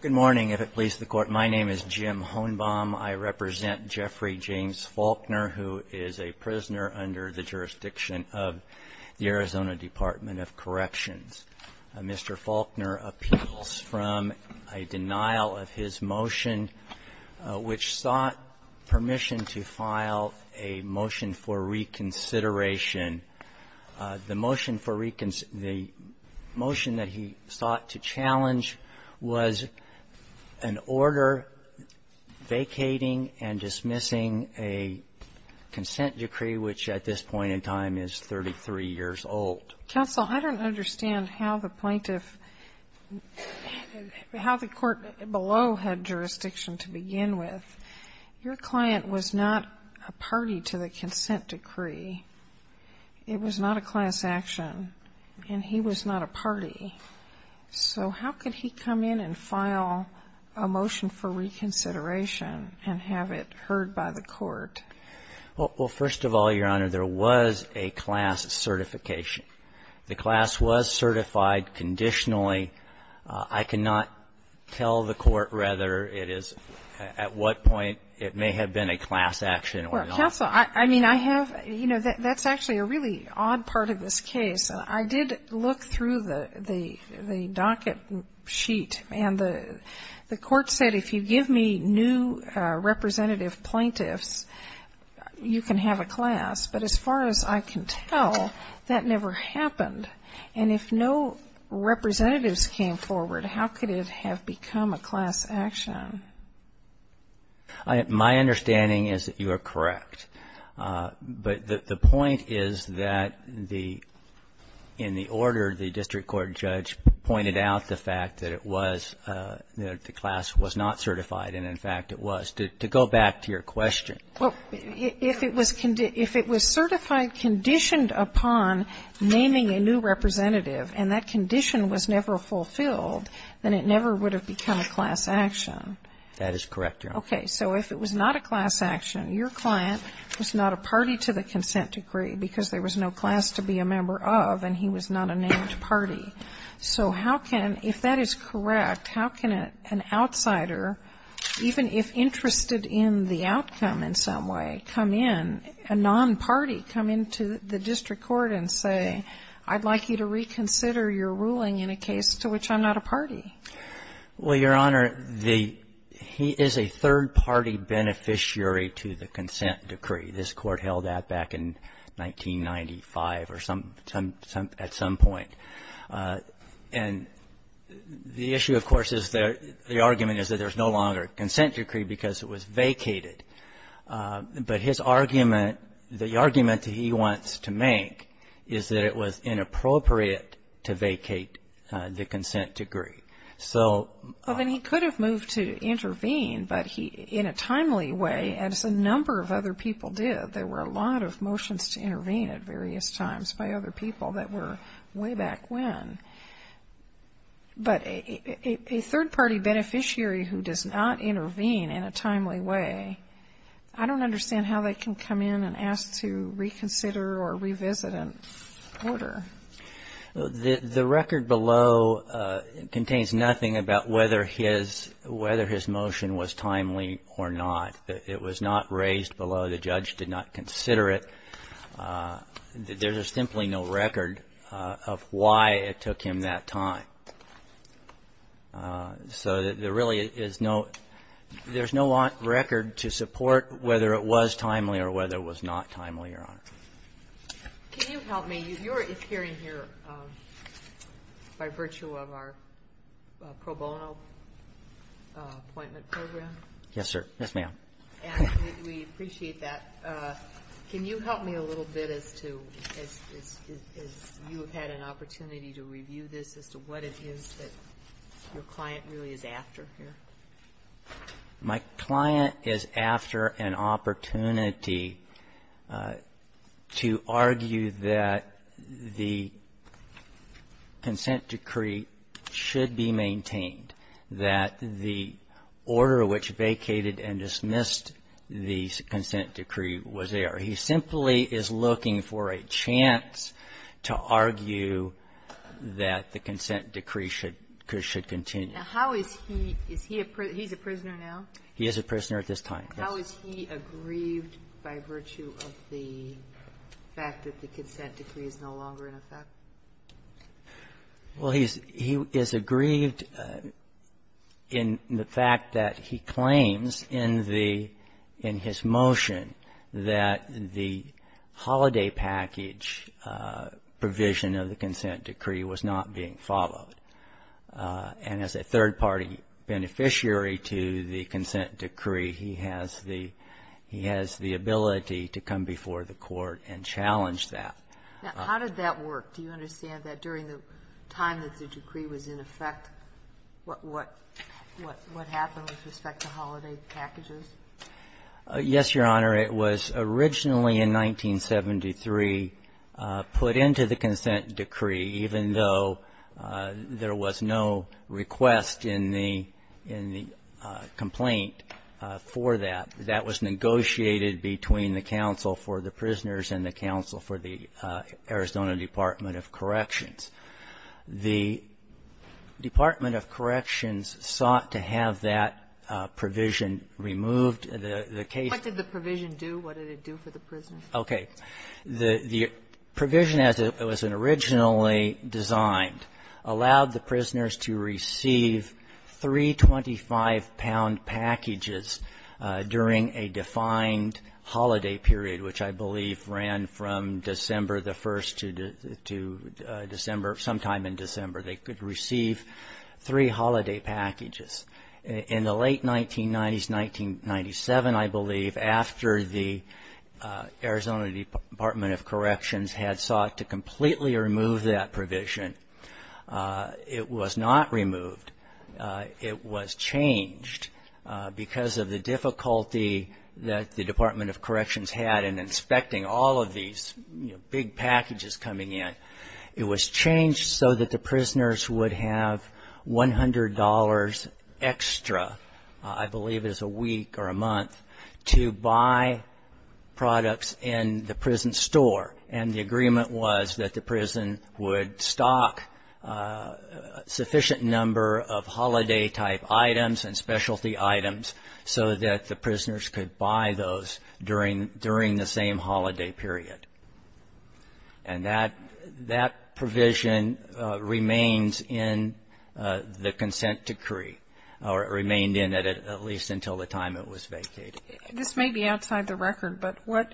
Good morning. If it pleases the Court, my name is Jim Honebaum. I represent Jeffrey James Flaulkner, who is a prisoner under the jurisdiction of the Arizona Department of Corrections. Mr. Flaulkner appeals from a denial of his motion, which sought permission to file a motion for reconsideration. The motion that he sought to challenge was an order vacating and dismissing a consent decree, which at this point in time is 33 years old. Counsel, I don't understand how the plaintiff, how the court below had jurisdiction to begin with, your client was not a party to the consent decree. It was not a class action. And he was not a party. So how could he come in and file a motion for reconsideration and have it heard by the court? Well, first of all, Your Honor, there was a class certification. The class was certified conditionally. I cannot tell the court whether it is at what point it may have been a class action or not. Well, counsel, I mean, I have you know, that's actually a really odd part of this case. I did look through the docket sheet, and the court said if you give me new representative plaintiffs, you can have a class. But as far as I can tell, that never happened. And if no representatives came forward, how could it have become a class action? My understanding is that you are correct. But the point is that the, in the order the district court judge pointed out the fact that it was, that the class was not certified, and in fact it was. To go back to your question. Well, if it was certified, conditioned upon naming a new representative, and that condition was never fulfilled, then it never would have become a class action. That is correct, Your Honor. Okay. So if it was not a class action, your client was not a party to the consent decree because there was no class to be a member of, and he was not a named party. So how can, if that is correct, how can an outsider, even if interested in the outcome in some way, come in, a non-party, come into the district court and say, I'd like you to reconsider your ruling in a case to which I'm not a party? Well, Your Honor, the he is a third-party beneficiary to the consent decree. This Court held that back in 1995 or some, at some point. And the issue, of course, is that the argument is that there's no longer a consent decree because it was vacated. But his argument, the argument that he wants to make is that it was inappropriate to vacate the consent decree. So... Well, then he could have moved to intervene, but he, in a timely way, as a number of other people did, there were a lot of motions to intervene at various times by other people that were way back when. But a third-party beneficiary who does not I don't understand how they can come in and ask to reconsider or revisit an order. The record below contains nothing about whether his, whether his motion was timely or not. It was not raised below. The judge did not consider it. There is simply no record of why it took him that time. So there really is no, there's no record to support whether it was timely or whether it was not timely, Your Honor. Can you help me? You're appearing here by virtue of our pro bono appointment program. Yes, sir. Yes, ma'am. And we appreciate that. Can you help me a little bit as to, as you have had an opportunity to review this, as to what it is that your client really is after here? My client is after an opportunity to argue that the consent decree should be maintained, that the order which vacated and dismissed the consent decree was there. He simply is looking for a chance to argue that the consent decree should continue. Now, how is he, is he a, he's a prisoner now? He is a prisoner at this time, yes. How is he aggrieved by virtue of the fact that the consent decree is no longer in effect? Well, he's, he is aggrieved in the fact that he claims in the, in his motion that the holiday package provision of the consent decree was not being followed. And as a third-party beneficiary to the consent decree, he has the, he has the ability to come before the court and challenge that. Now, how did that work? Do you understand that during the time that the decree was in effect, what, what, what happened with respect to holiday packages? Yes, Your Honor. It was originally in 1973 put into the consent decree, even though there was no request in the, in the complaint for that. That was negotiated between the counsel for the prisoners and the counsel for the Arizona Department of Corrections. The Department of Corrections sought to have that provision removed. The, the case ---- What did the provision do? What did it do for the prisoners? Okay. The, the provision as it was originally designed allowed the prisoners to receive three 25-pound packages during a defined holiday period, which I believe ran from December the 1st to December, sometime in December. They could receive three holiday packages. In the late 1990s, 1997, I believe, after the Arizona Department of Corrections had sought to completely remove that provision, it was not removed. It was changed because of the difficulty that the Department of Corrections had in inspecting all of these big packages coming in. It was changed so that the prisoners would have $100 extra, I believe it was a week or a month, to buy products in the prison store. And the agreement was that the prison would stock a sufficient number of holiday type items and specialty items so that the that provision remains in the consent decree, or it remained in it at least until the time it was vacated. This may be outside the record, but what,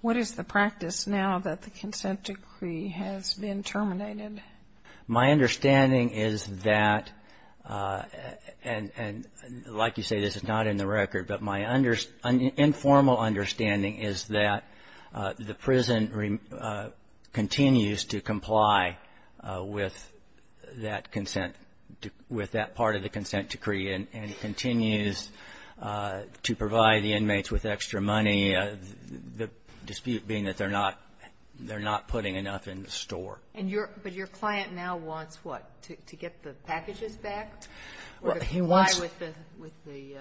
what is the practice now that the consent decree has been terminated? My understanding is that, and like you say, this is not in the record, but my informal understanding is that the prison continues to comply with that consent, with that part of the consent decree, and continues to provide the inmates with extra money, the dispute being that they're not, they're not putting enough in the store. And your, but your client now wants what? To get the packages back or comply with the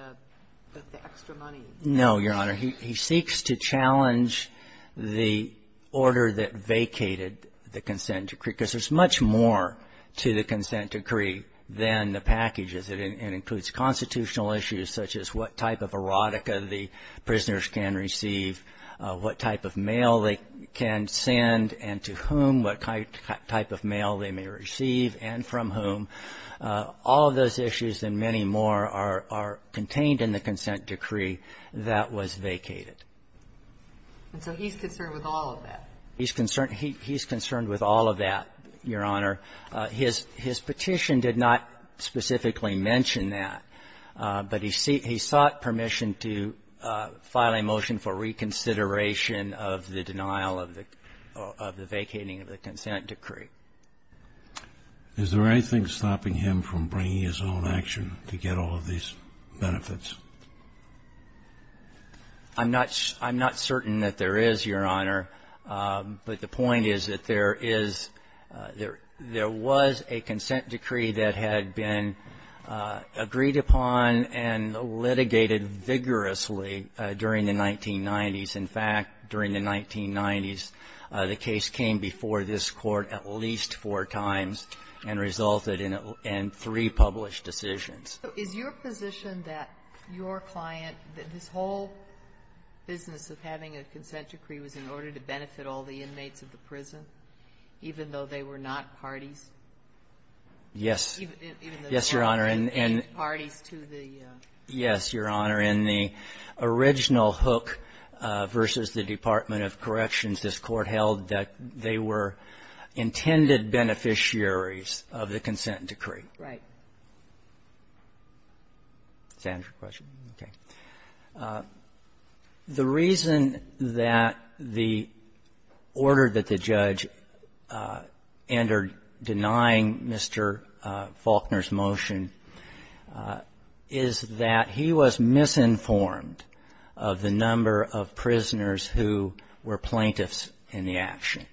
extra money? No, Your Honor. He, he seeks to challenge the order that vacated the consent decree, because there's much more to the consent decree than the packages. It, it includes constitutional issues such as what type of erotica the prisoners can receive, what type of mail they can send, and to whom, what type of mail they may receive, and from whom. All of those issues and many more are, are contained in the consent decree that was vacated. And so he's concerned with all of that? He's concerned, he, he's concerned with all of that, Your Honor. His, his petition did not specifically mention that, but he sought permission to file a motion for reconsideration of the denial of the, of the vacating of the consent decree. Is there anything stopping him from bringing his own action to get all of these benefits? I'm not, I'm not certain that there is, Your Honor. But the point is that there is, there, there was a consent decree that had been agreed upon and litigated vigorously during the 1990s. In fact, during the 1990s, the case came before this Court at least four times and resulted in a, in three published decisions. So is your position that your client, that this whole business of having a consent decree was in order to benefit all the inmates of the prison, even though they were not parties? Yes. Even though they were not parties to the --? Yes, Your Honor. In the original Hook v. the Department of Corrections, this Court held that they were intended beneficiaries of the consent decree. Right. Does that answer your question? Okay. The reason that the order that the judge entered denying Mr. Faulkner's motion is that he was misinformed of the number of prisoners who were plaintiffs in the action.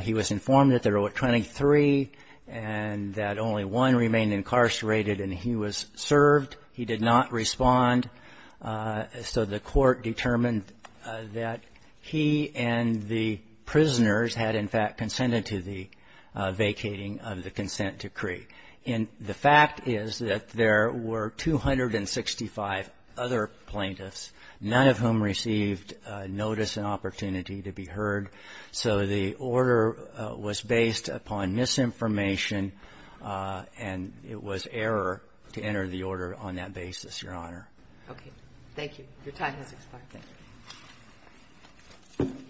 He was informed that there were 23 and that only one remained incarcerated, and he was served. He did not respond. So the Court determined that he and the prisoners had, in fact, consented to the vacating of the consent decree. And the fact is that there were 265 other plaintiffs, none of whom received notice and opportunity to be heard. So the order was based upon misinformation, and it was error to enter the order on that basis, Your Honor. Okay. Thank you. Your time has expired. Thank you.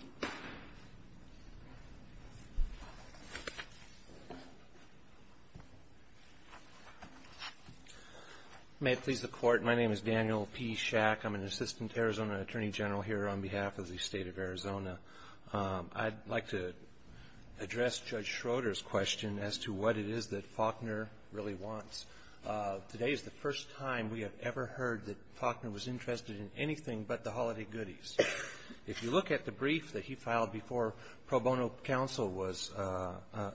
May it please the Court, my name is Daniel P. Schack. I'm an assistant Arizona Attorney General here on behalf of the State of Arizona. I'd like to address Judge Schroeder's question as to what it is that Faulkner really wants. Today is the first time we have ever heard that Faulkner was interested in anything but the holiday goodies. If you look at the brief that he filed before pro bono counsel was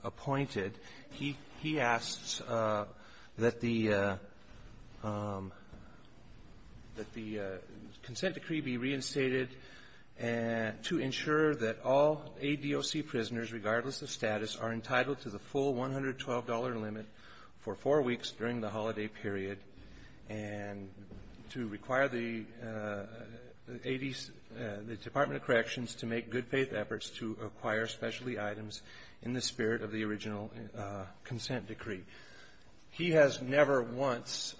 appointed, he asks that the consent decree be reinstated to ensure that all ADOC prisoners, regardless of status, are entitled to the full $112 limit for four weeks during the holiday period and to require the ADC, the Department of Corrections, to make good-faith efforts to acquire specialty items in the spirit of the original consent decree. He has never once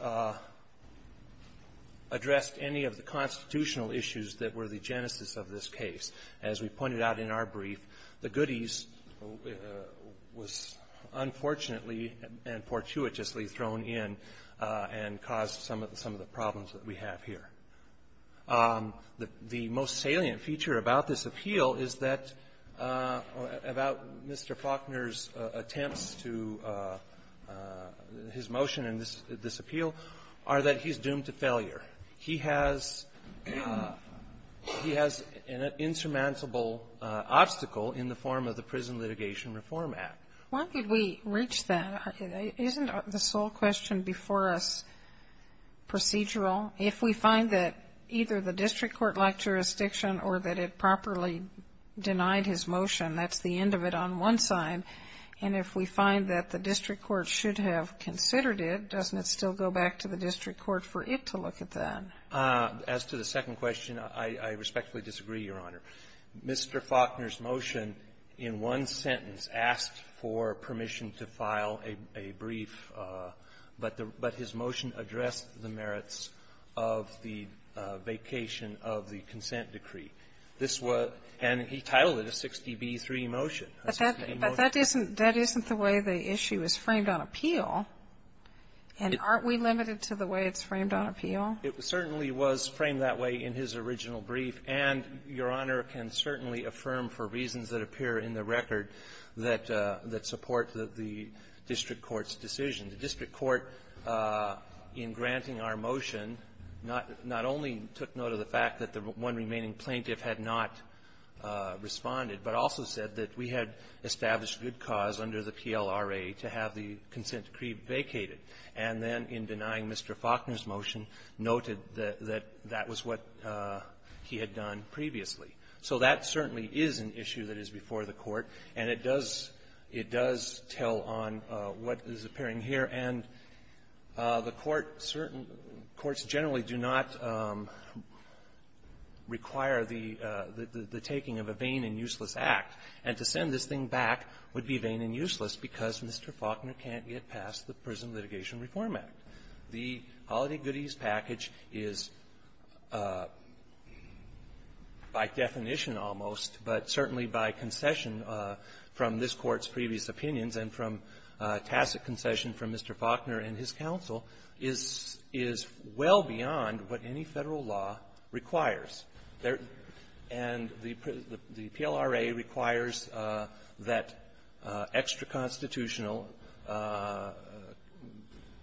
addressed any of the constitutional issues that were the genesis of this case. As we pointed out in our brief, the goodies was unfortunately and fortuitously thrown in and caused some of the problems that we have here. The most salient feature about this appeal is that Mr. Faulkner's attempts to his motion in this appeal are that he's doomed to failure. He has an insurmountable obstacle in the form of the Prison Litigation Reform Act. Why did we reach that? Isn't the sole question before us procedural? If we find that either the district court-like jurisdiction or that it properly denied his motion, that's the end of it on one side. And if we find that the district court should have considered it, doesn't it still go back to the district court for it to look at that? As to the second question, I respectfully disagree, Your Honor. Mr. Faulkner's motion in one sentence asked for permission to file a brief, but his motion addressed the merits of the vacation of the consent decree. This was and he titled it a 60b3 motion, a 60b3 motion. But that isn't the way the issue is framed on appeal. And aren't we limited to the way it's framed on appeal? It certainly was framed that way in his original brief. And Your Honor can certainly affirm, for reasons that appear in the record, that support the district court's decision. The district court, in granting our motion, not only took note of the fact that the one remaining plaintiff had not responded, but also said that we had established good cause under the PLRA to have the consent decree vacated, and then, in denying Mr. Faulkner's motion, noted that that was what he had done previously. So that certainly is an issue that is before the Court, and it does tell on what is appearing here. And the Court, certain courts generally do not require the taking of a vain and useless act. And to send this thing back would be vain and useless, because Mr. Faulkner can't get past the court's request to pass the Prison Litigation Reform Act. The Holiday Goodies package is, by definition, almost, but certainly by concession from this Court's previous opinions and from tacit concession from Mr. Faulkner and his counsel, is well beyond what any Federal law requires. And the PLRA requires that extra-constitutional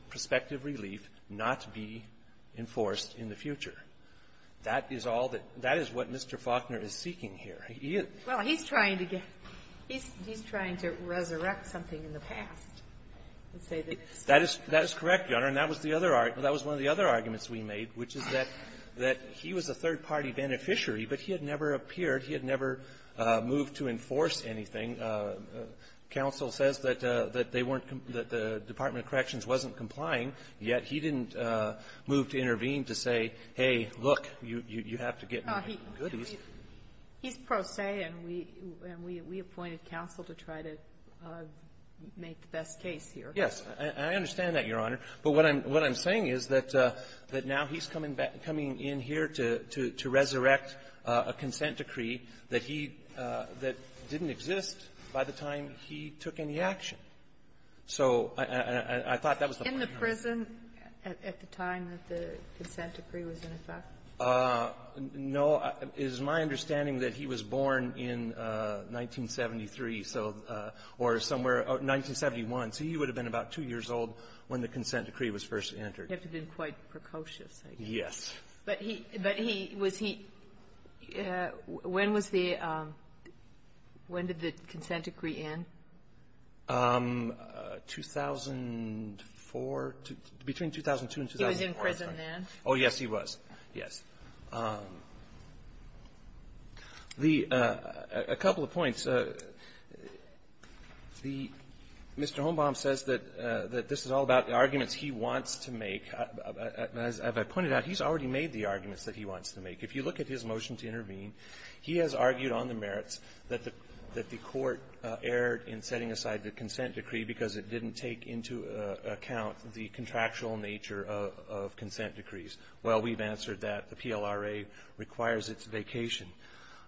perspective relief not be enforced in the future. That is all that Mr. Faulkner is seeking here. He is --. Well, he's trying to get he's trying to resurrect something in the past. That is correct, Your Honor, and that was the other argument. That was one of the other arguments we made, which is that he was a third-party beneficiary, but he had never appeared. He had never moved to enforce anything. Counsel says that they weren't the Department of Corrections wasn't complying, yet he didn't move to intervene to say, hey, look, you have to get my goodies. He's pro se, and we appointed counsel to try to make the best case here. Yes. I understand that, Your Honor. But what I'm saying is that now he's coming in here to resurrect a consent decree that he that didn't exist by the time he took any action. So I thought that was the point, Your Honor. In the prison at the time that the consent decree was in effect? No. It is my understanding that he was born in 1973, so or somewhere 1971. So he would have been about two years old when the consent decree was first entered. He would have been quite precocious, I guess. Yes. But he was he when was the when did the consent decree end? 2004, between 2002 and 2004. He was in prison then? Oh, yes, he was. Yes. The a couple of points. The Mr. Holmbaum says that this is all about the arguments he wants to make. As I pointed out, he's already made the arguments that he wants to make. If you look at his motion to intervene, he has argued on the merits that the that the court erred in setting aside the consent decree because it didn't take into account the contractual nature of consent decrees. Well, we've answered that. The PLRA requires its vacation.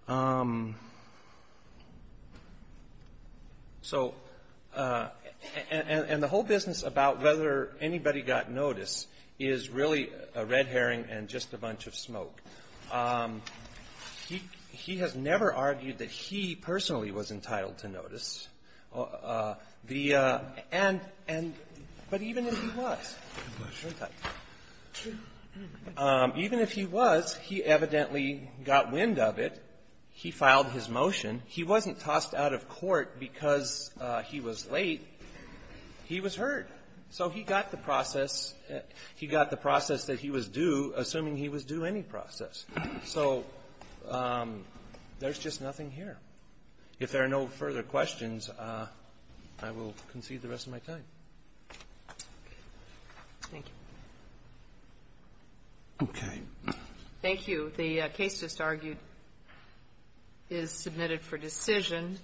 So and the whole business about whether anybody got notice is really a red herring and just a bunch of smoke. He he has never argued that he personally was entitled to notice the and and but even if he was, even if he was, he evidently got wind of it. He filed his motion. He wasn't tossed out of court because he was late. He was heard. So he got the process. He got the process that he was due, assuming he was due any process. So there's just nothing here. If there are no further questions, I will concede the rest of my time. Thank you. Okay. Thank you. The case just argued is submitted for decision.